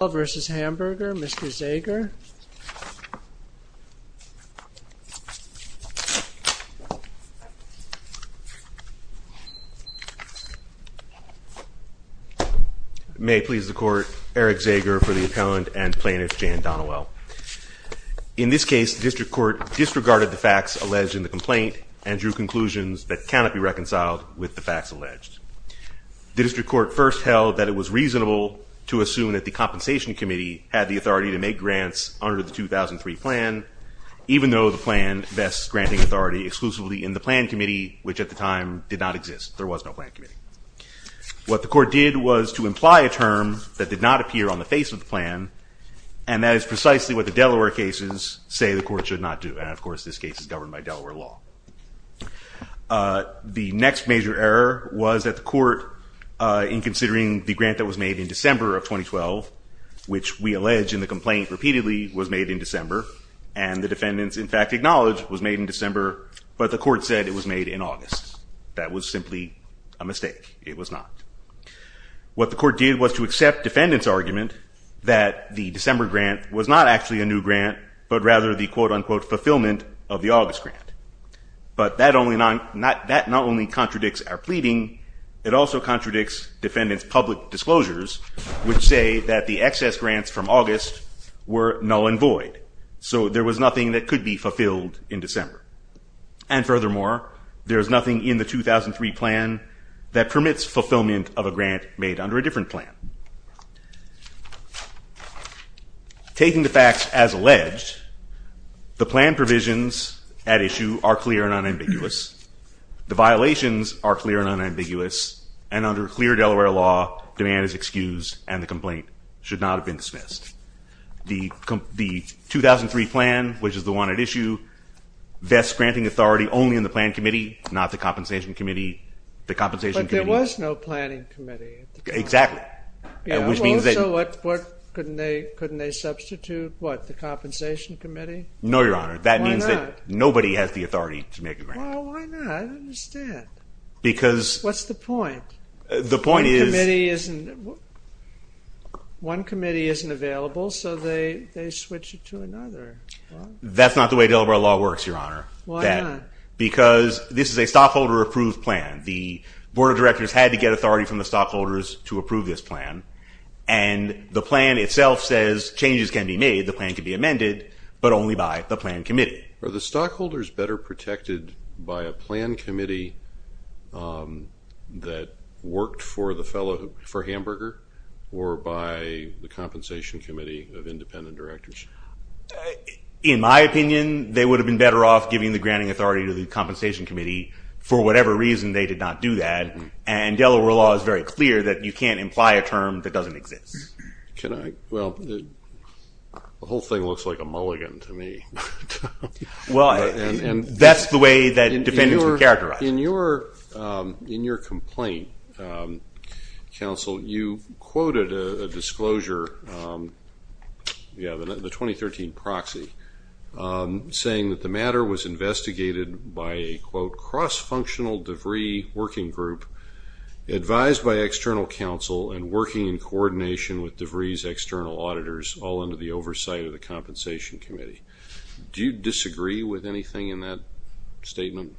vs. Hamburger, Mr. Zager. May it please the court, Eric Zager for the appellant and plaintiff Jan Donnewell. In this case the district court disregarded the facts alleged in the complaint and drew conclusions that cannot be reconciled with the facts alleged. The district court first held that it was reasonable to assume that the compensation committee had the authority to make grants under the 2003 plan, even though the plan vests granting authority exclusively in the plan committee, which at the time did not exist. There was no plan committee. What the court did was to imply a term that did not appear on the face of the plan, and that is precisely what the Delaware cases say the court should not do. And of course this case is governed by Delaware law. The next major error was that the court, in considering the grant that was made in December of 2012, which we allege in the complaint repeatedly was made in December, and the defendants in fact acknowledged was made in December, but the court said it was made in August. That was simply a mistake. It was not. What the court did was to accept defendants argument that the December grant was not actually a new grant, but rather the quote-unquote fulfillment of the August grant. But that not only contradicts our pleading, it also contradicts defendants public disclosures, which say that the excess grants from August were null and void. So there was nothing that could be fulfilled in December. And furthermore, there is nothing in the 2003 plan that permits fulfillment of a grant made under a different plan. Taking the facts as issue are clear and unambiguous. The violations are clear and unambiguous, and under clear Delaware law, demand is excused and the complaint should not have been dismissed. The 2003 plan, which is the one at issue, vests granting authority only in the planned committee, not the compensation committee. But there was no planning committee. Exactly. So couldn't they substitute, what, the compensation committee? No, Your Honor. That means that nobody has the authority to make a grant. Well, why not? I don't understand. Because... What's the point? The point is... One committee isn't available, so they switch it to another. That's not the way Delaware law works, Your Honor. Why not? Because this is a stockholder approved plan. The Board of Directors had to get authority from the stockholders to approve this changes can be made, the plan can be amended, but only by the planned committee. Are the stockholders better protected by a planned committee that worked for the fellow, for Hamburger, or by the compensation committee of independent directors? In my opinion, they would have been better off giving the granting authority to the compensation committee for whatever reason they did not do that, and Delaware law is very clear that you can't imply a term that doesn't exist. Can I, well, the whole thing looks like a mulligan to me. Well, that's the way that defendants were characterized. In your complaint, counsel, you quoted a disclosure, yeah, the 2013 proxy, saying that the matter was investigated by a quote, cross-functional debris working group advised by external counsel and working in coordination with debris external auditors all under the oversight of the compensation committee. Do you disagree with anything in that statement?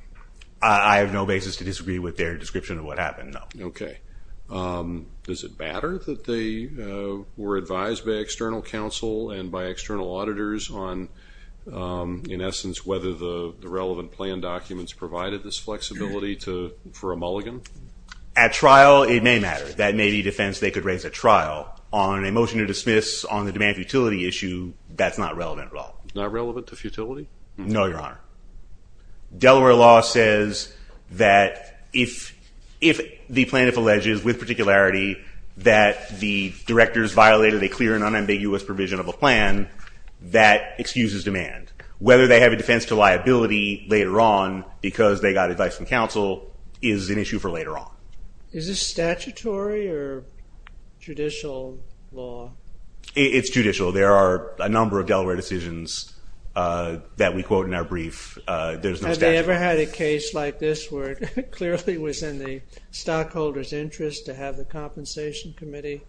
I have no basis to disagree with their description of what happened, no. Okay. Does it matter that they were advised by external counsel and by external auditors on, in essence, whether the relevant plan documents provided this flexibility to, for a mulligan? At trial, it may matter. That may be defense they could raise at trial. On a motion to dismiss on the demand futility issue, that's not relevant at all. Not relevant to futility? No, your honor. Delaware law says that if the plaintiff alleges with particularity that the directors violated a clear and unambiguous provision of a plan, that excuses demand. Whether they have a defense to liability later on because they got advice from judicial law. It's judicial. There are a number of Delaware decisions that we quote in our brief. Have they ever had a case like this where it clearly was in the stockholders interest to have the compensation committee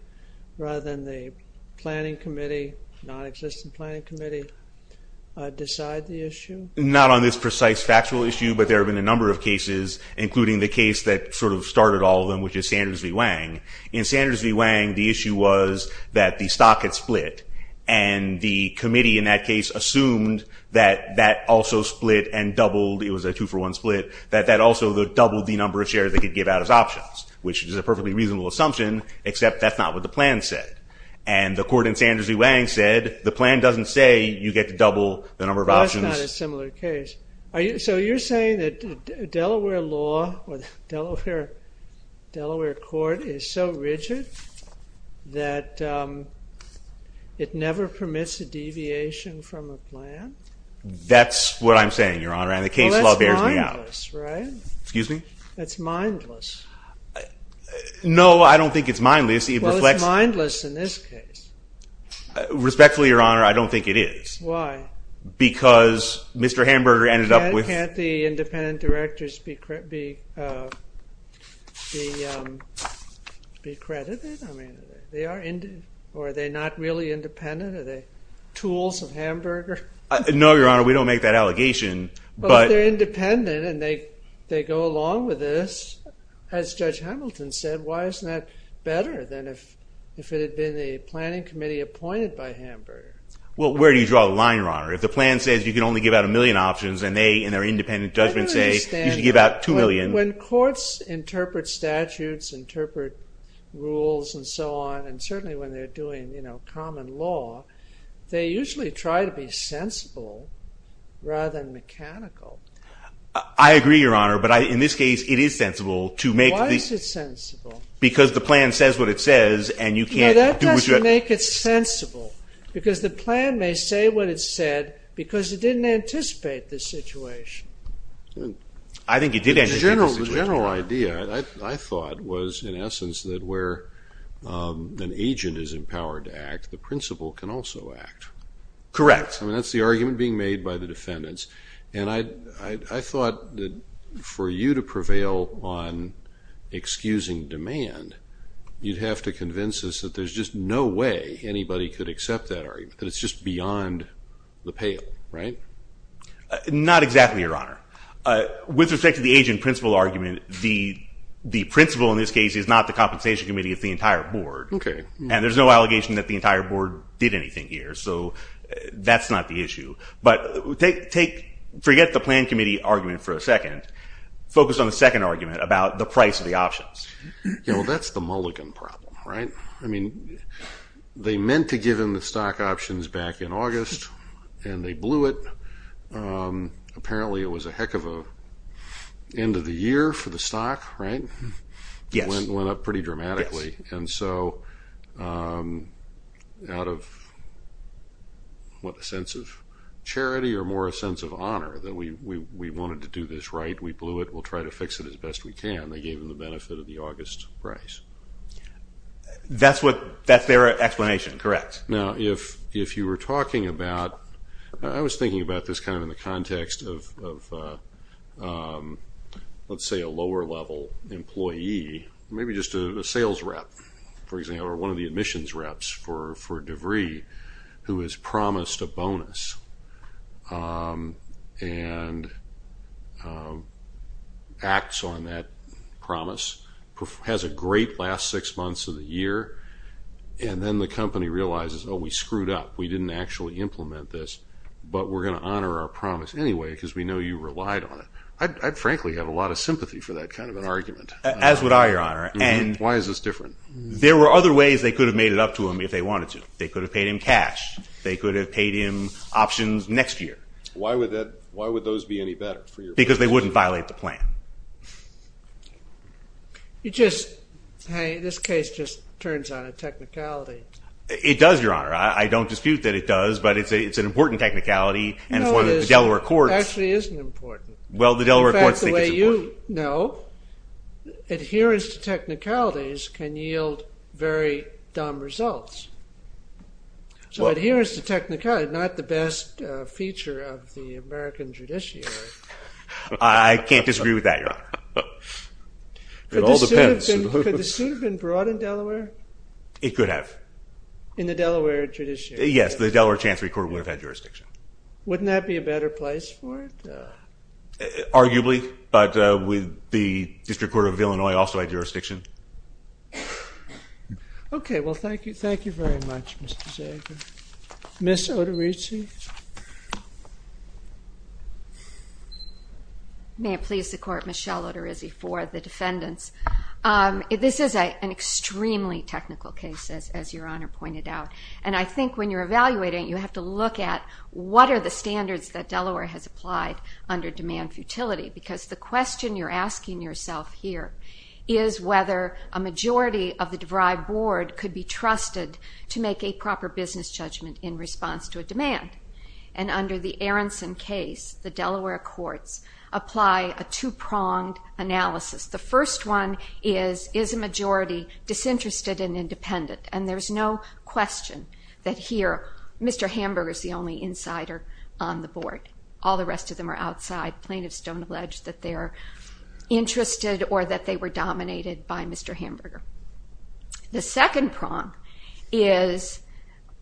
rather than the planning committee, non-existent planning committee, decide the issue? Not on this precise factual issue, but there have been a number of cases, including the case that sort of started all of them, which is Sanders v. Wang. In Sanders v. Wang, the issue was that the stock had split, and the committee in that case assumed that that also split and doubled. It was a two-for-one split. That that also doubled the number of shares they could give out as options, which is a perfectly reasonable assumption, except that's not what the plan said. And the court in Sanders v. Wang said the plan doesn't say you get to double the number of options. That's not a similar case. So you're saying that Delaware law or that it never permits a deviation from a plan? That's what I'm saying, Your Honor, and the case law bears me out. Well, that's mindless, right? Excuse me? That's mindless. No, I don't think it's mindless. Well, it's mindless in this case. Respectfully, Your Honor, I don't think it is. Why? Because Mr. Hamburger ended up with... Can't the independent directors be accredited? I mean, they are independent. Or are they not really independent? Are they tools of Hamburger? No, Your Honor, we don't make that allegation, but... But if they're independent and they go along with this, as Judge Hamilton said, why isn't that better than if it had been the planning committee appointed by Hamburger? Well, where do you draw the line, Your Honor? If the plan says you can only give out a million options and they, in their independent judgment, say you should give out two million... I don't understand. When courts interpret statutes, interpret rules, and so on, and certainly when they're doing, you know, common law, they usually try to be sensible rather than mechanical. I agree, Your Honor, but I, in this case, it is sensible to make... Why is it sensible? Because the plan says what it says and you can't... No, that doesn't make it sensible, because the plan may say what it said because it didn't anticipate the situation. I think it did anticipate the situation. Well, the general idea, I thought, was, in essence, that where an agent is empowered to act, the principal can also act. Correct. I mean, that's the argument being made by the defendants, and I thought that for you to prevail on excusing demand, you'd have to convince us that there's just no way anybody could accept that argument, that it's just beyond the pale, right? Not exactly, Your Honor. With respect to the agent-principal argument, the principal, in this case, is not the compensation committee. It's the entire board, and there's no allegation that the entire board did anything here, so that's not the issue, but forget the plan committee argument for a second. Focus on the second argument about the price of the options. You know, that's the Mulligan problem, right? I mean, they meant to give him the stock options back in Apparently, it was a heck of a end of the year for the stock, right? Yes. It went up pretty dramatically, and so out of, what, a sense of charity or more a sense of honor that we wanted to do this right, we blew it, we'll try to fix it as best we can, they gave him the benefit of the August price. That's what, that's their this kind of in the context of, let's say, a lower-level employee, maybe just a sales rep, for example, or one of the admissions reps for DeVry who has promised a bonus and acts on that promise, has a great last six months of the year, and then the company realizes, oh, we screwed up, we didn't actually implement this, but we're going to honor our promise anyway because we know you relied on it. I frankly have a lot of sympathy for that kind of an argument. As would I, Your Honor. And why is this different? There were other ways they could have made it up to him if they wanted to. They could have paid him cash, they could have paid him options next year. Why would that, why would those be any better for you? Because they wouldn't violate the plan. You just, hey, this case just turns on a technicality. It does, Your Honor. I don't dispute that it does, but it's an important technicality, and it's one of the Delaware courts. No, it actually isn't important. Well, the Delaware courts think it's important. In fact, the way you know, adherence to technicalities can yield very dumb results. So adherence to technicalities is not the best feature of the American judiciary. I can't disagree with that, Your Honor. It all depends. Could the suit have been brought in Delaware? It could have. In the judiciary court, it would have had jurisdiction. Wouldn't that be a better place for it? Arguably, but the District Court of Illinois also had jurisdiction. Okay, well, thank you. Thank you very much, Mr. Zager. Ms. Oterizzi? May it please the Court, Michelle Oterizzi for the defendants. This is an extremely technical case, as Your Honor pointed out, and I think when you're going to look at what are the standards that Delaware has applied under demand futility, because the question you're asking yourself here is whether a majority of the DeVry board could be trusted to make a proper business judgment in response to a demand. And under the Aronson case, the Delaware courts apply a two-pronged analysis. The first one is, is a majority disinterested and independent, and there's no question that here Mr. Hamburger is the only insider on the board. All the rest of them are outside. Plaintiffs don't allege that they're interested or that they were dominated by Mr. Hamburger. The second prong is,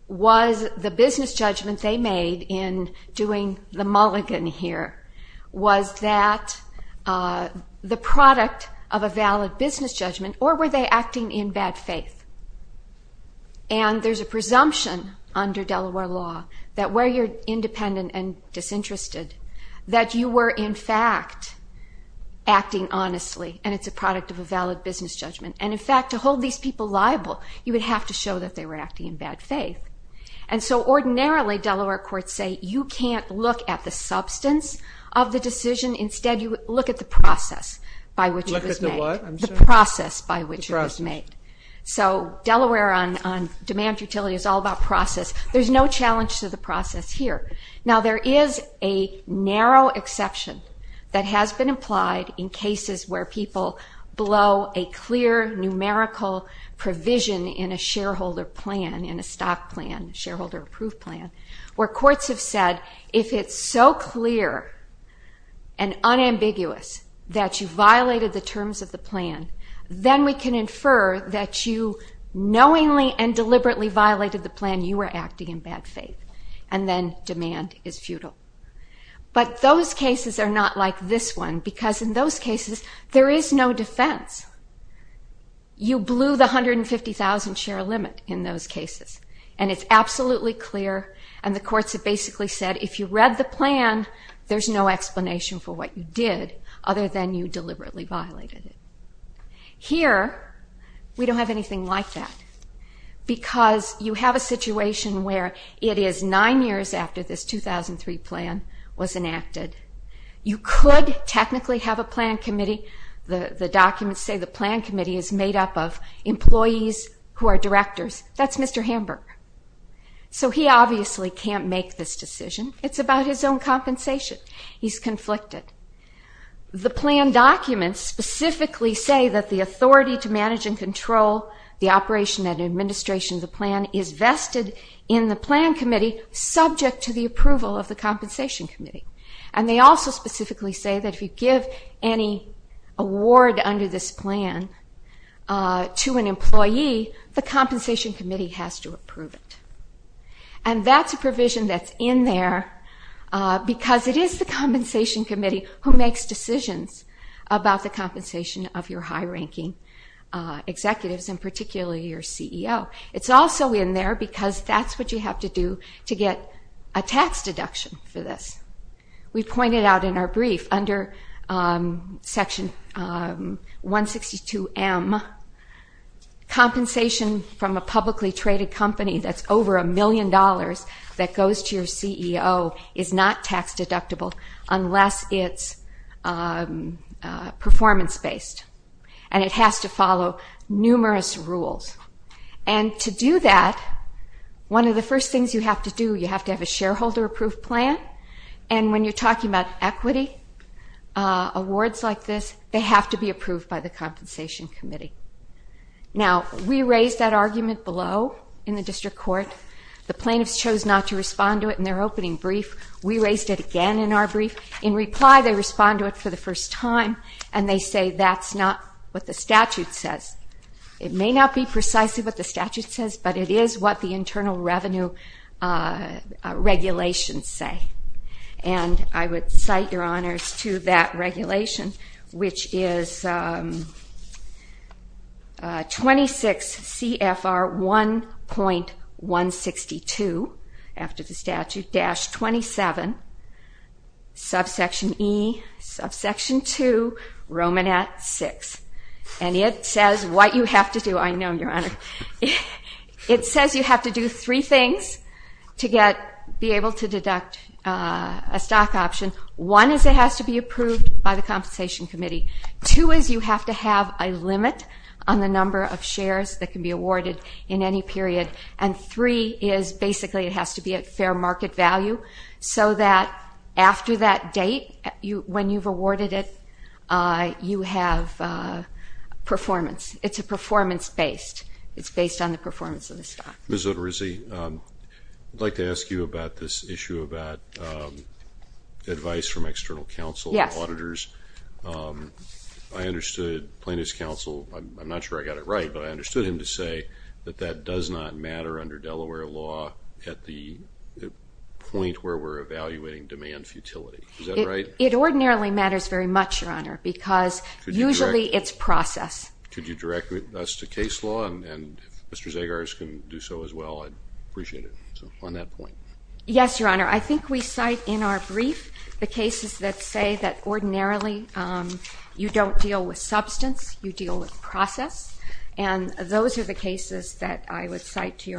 was the business judgment they made in doing the mulligan here, was that the product of a valid business judgment, or were they acting in bad faith? And there's a presumption under Delaware law that where you're independent and disinterested, that you were in fact acting honestly, and it's a product of a valid business judgment. And in fact, to hold these people liable, you would have to show that they were acting in bad faith. And so ordinarily, Delaware courts say you can't look at the substance of the decision. Instead, you look at the process by which it was made. So Delaware on demand for utility is all about process. There's no challenge to the process here. Now there is a narrow exception that has been applied in cases where people blow a clear numerical provision in a shareholder plan, in a stock plan, shareholder approved plan, where courts have said, if it's so clear and unambiguous that you violated the terms of the plan, then we can infer that you knowingly and deliberately violated the plan, you were acting in bad faith. And then demand is futile. But those cases are not like this one, because in those cases, there is no defense. You blew the 150,000 share limit in those cases. And it's absolutely clear, and the courts have basically said, if you read the plan, there's no explanation for what you did, other than you deliberately violated it. Here, we don't have anything like that, because you have a situation where it is nine years after this 2003 plan was enacted. You could technically have a plan committee. The plan committee is made up of employees who are directors. That's Mr. Hamburg. So he obviously can't make this decision. It's about his own compensation. He's conflicted. The plan documents specifically say that the authority to manage and control the operation and administration of the plan is vested in the plan committee, subject to the approval of the compensation committee. And they also specifically say that if you give any award under this plan to an employee, the compensation committee has to approve it. And that's a provision that's in there, because it is the compensation committee who makes decisions about the compensation of your high-ranking executives, and particularly your CEO. It's also in there because that's what you have to do to get a tax deduction for this. We pointed out in our brief, under Section 162M, compensation from a publicly traded company that's over a million dollars that goes to your CEO is not tax deductible, unless it's performance-based. And it has to follow numerous rules. And to do that, one of the first things you have to do, you have to have a shareholder-approved plan. And when you're talking about equity, awards like this, they have to be approved by the compensation committee. Now, we raised that argument below in the district court. The plaintiffs chose not to respond to it in their opening brief. We raised it again in our brief. In reply, they respond to it for the first time, and they say that's not what the statute says. It may not be precisely what the statute says, but it is what the internal revenue regulations say. And I would cite, Your Honors, to that regulation, which is 26 CFR 1.162, after the statute, dash 27, subsection E, subsection 2, Romanet 6. And it says what you have to do, I know, Your Honor. It says you have to do three things to be able to deduct a stock option. One is it has to be approved by the compensation committee. Two is you have to have a limit on the number of shares that can be awarded in any period. And three is, basically, it has to be at fair market value, so that after that based. It's based on the performance of the stock. Ms. Oterizzi, I'd like to ask you about this issue about advice from external counsel, auditors. I understood plaintiff's counsel, I'm not sure I got it right, but I understood him to say that that does not matter under Delaware law at the point where we're evaluating demand futility. Is that right? It ordinarily matters very much, Your Honor, because usually it's process. Could you direct us to case law, and if Mr. Zagars can do so as well, I'd appreciate it on that point. Yes, Your Honor. I think we cite in our brief the cases that say that ordinarily you don't deal with substance, you deal with process. And those are the cases that I would cite to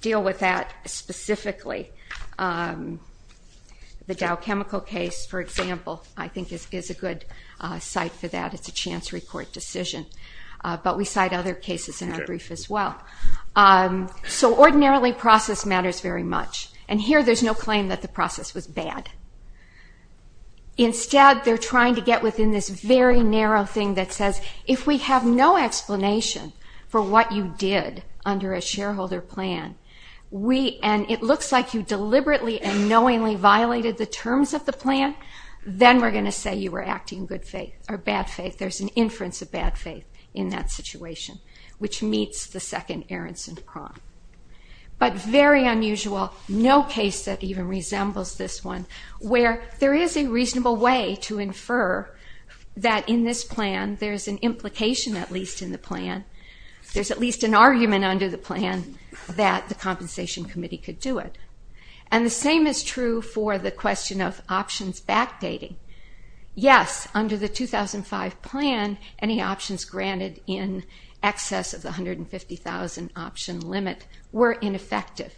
deal with that specifically. The Dow chemical case, for example, I think is a good site for that. It's a chance report decision, but we cite other cases in our brief as well. So ordinarily process matters very much, and here there's no claim that the process was bad. Instead, they're trying to get within this very what you did under a shareholder plan. And it looks like you deliberately and knowingly violated the terms of the plan, then we're going to say you were acting in bad faith. There's an inference of bad faith in that situation, which meets the second Aaronson prompt. But very unusual, no case that even resembles this one, where there is a reasonable way to infer that in this plan there's an argument under the plan that the Compensation Committee could do it. And the same is true for the question of options backdating. Yes, under the 2005 plan, any options granted in excess of the $150,000 option limit were ineffective.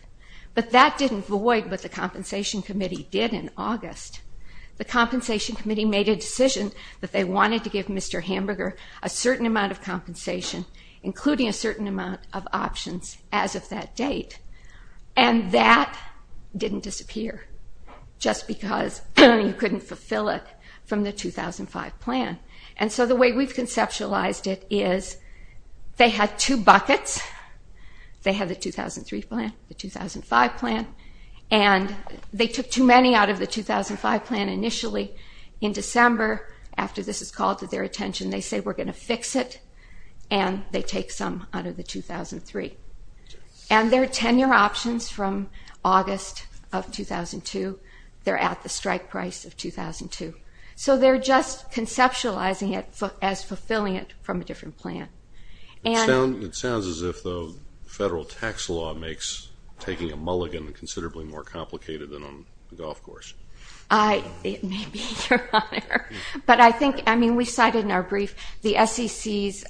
But that didn't void what the Compensation Committee did in August. The Compensation Committee made a decision that they wanted to give Mr. Aaronson a limit of compensation, including a certain amount of options as of that date. And that didn't disappear just because you couldn't fulfill it from the 2005 plan. And so the way we've conceptualized it is they had two buckets. They had the 2003 plan, the 2005 plan, and they took too many out of the 2005 plan initially. In December, after this is called to their attention, they say, we're going to fix it, and they take some out of the 2003. And their tenure options from August of 2002, they're at the strike price of 2002. So they're just conceptualizing it as fulfilling it from a different plan. It sounds as if the federal tax law makes taking a mulligan considerably more complicated than on a golf course. It may be, Your Honor. But I think, I mean, we cited in our brief, the SEC's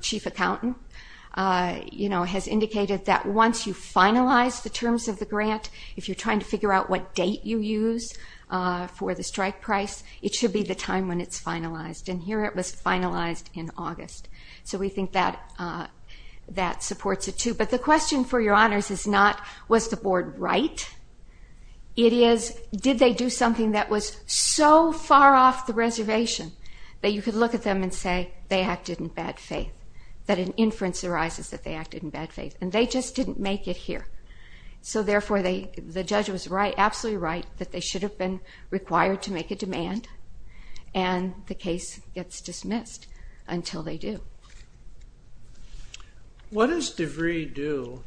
chief accountant, you know, has indicated that once you finalize the terms of the grant, if you're trying to figure out what date you use for the strike price, it should be the time when it's finalized. And here it was finalized in August. So we think that supports it too. But the question, for Your Honors, is not, was the board right? It is, did they do something that was so far off the reservation that you could look at them and say, they acted in bad faith, that an inference arises that they acted in bad faith, and they just didn't make it here. So therefore, the judge was absolutely right that they should have been required to make a demand, and the case gets dismissed until they do. What does DeVry do?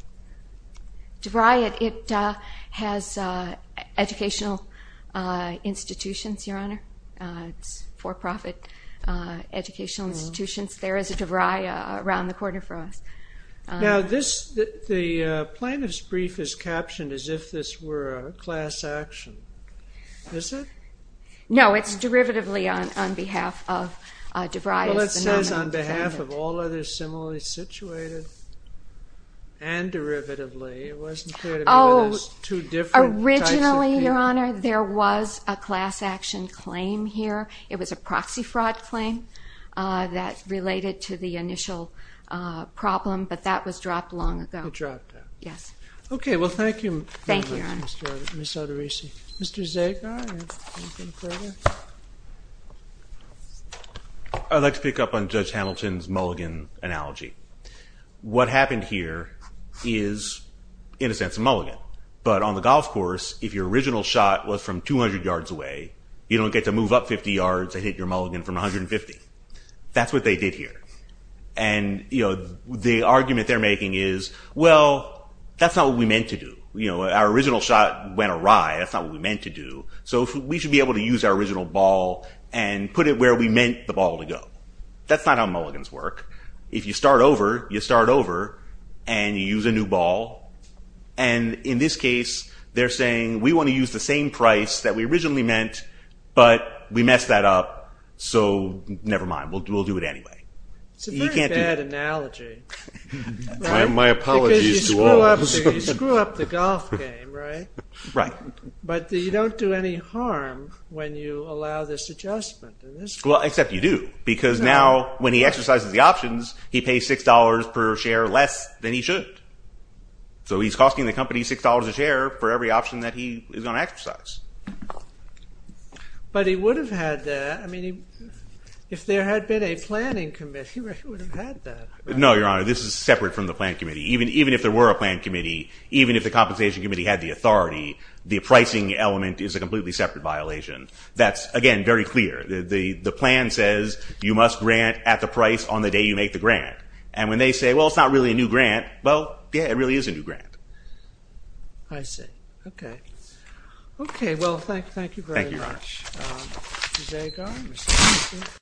DeVry, it has educational institutions, Your Honors, for-profit educational institutions. There is a DeVry around the corner from us. Now this, the plaintiff's brief is captioned as if this were a class action. Is it? No, it's derivatively on behalf of DeVry. Well, it says on behalf of all others similarly situated, and derivatively. It wasn't clear to me that it was two different types of people. Your Honor, there was a class action claim here. It was a proxy fraud claim that related to the initial problem, but that was dropped long ago. It dropped. Yes. Okay, well thank you, Ms. Arterisi. Mr. Zagar, anything further? I'd like to pick up on Judge Hamilton's mulligan analogy. What happened here is, in a sense, a mulligan. But on the golf course, if your original shot was from 200 yards away, you don't get to move up 50 yards and hit your mulligan from 150. That's what they did here. And, you know, the argument they're making is, well, that's not what we meant to do. You know, our original shot went awry. That's not what we meant to do. So we should be able to use our original ball and put it where we meant the ball to go. That's not how mulligans work. If you start over, you start over, and you use a new ball, and in this case, they're saying, we want to use the same price that we originally meant, but we messed that up, so never mind. We'll do it anyway. It's a very bad analogy. My apologies to all of us. Because you screw up the golf game, right? Right. But you don't do any harm when you allow this adjustment. Well, except you do, because now when he exercises the options, he pays $6 per share less than he should. So he's costing the company $6 a share for every option that he is going to exercise. But he would have had that. I mean, if there had been a planning committee, he would have had that. No, Your Honor, this is separate from the plan committee. Even if there were a plan committee, even if the compensation committee had the authority, the pricing element is a completely separate violation. That's, again, very clear. The plan says you must grant at the price on the day you make the grant. And when they say, well, it's not really a new grant, well, yeah, it really is a new grant. I see. OK. OK, well, thank you very much. Thank you, Your Honor.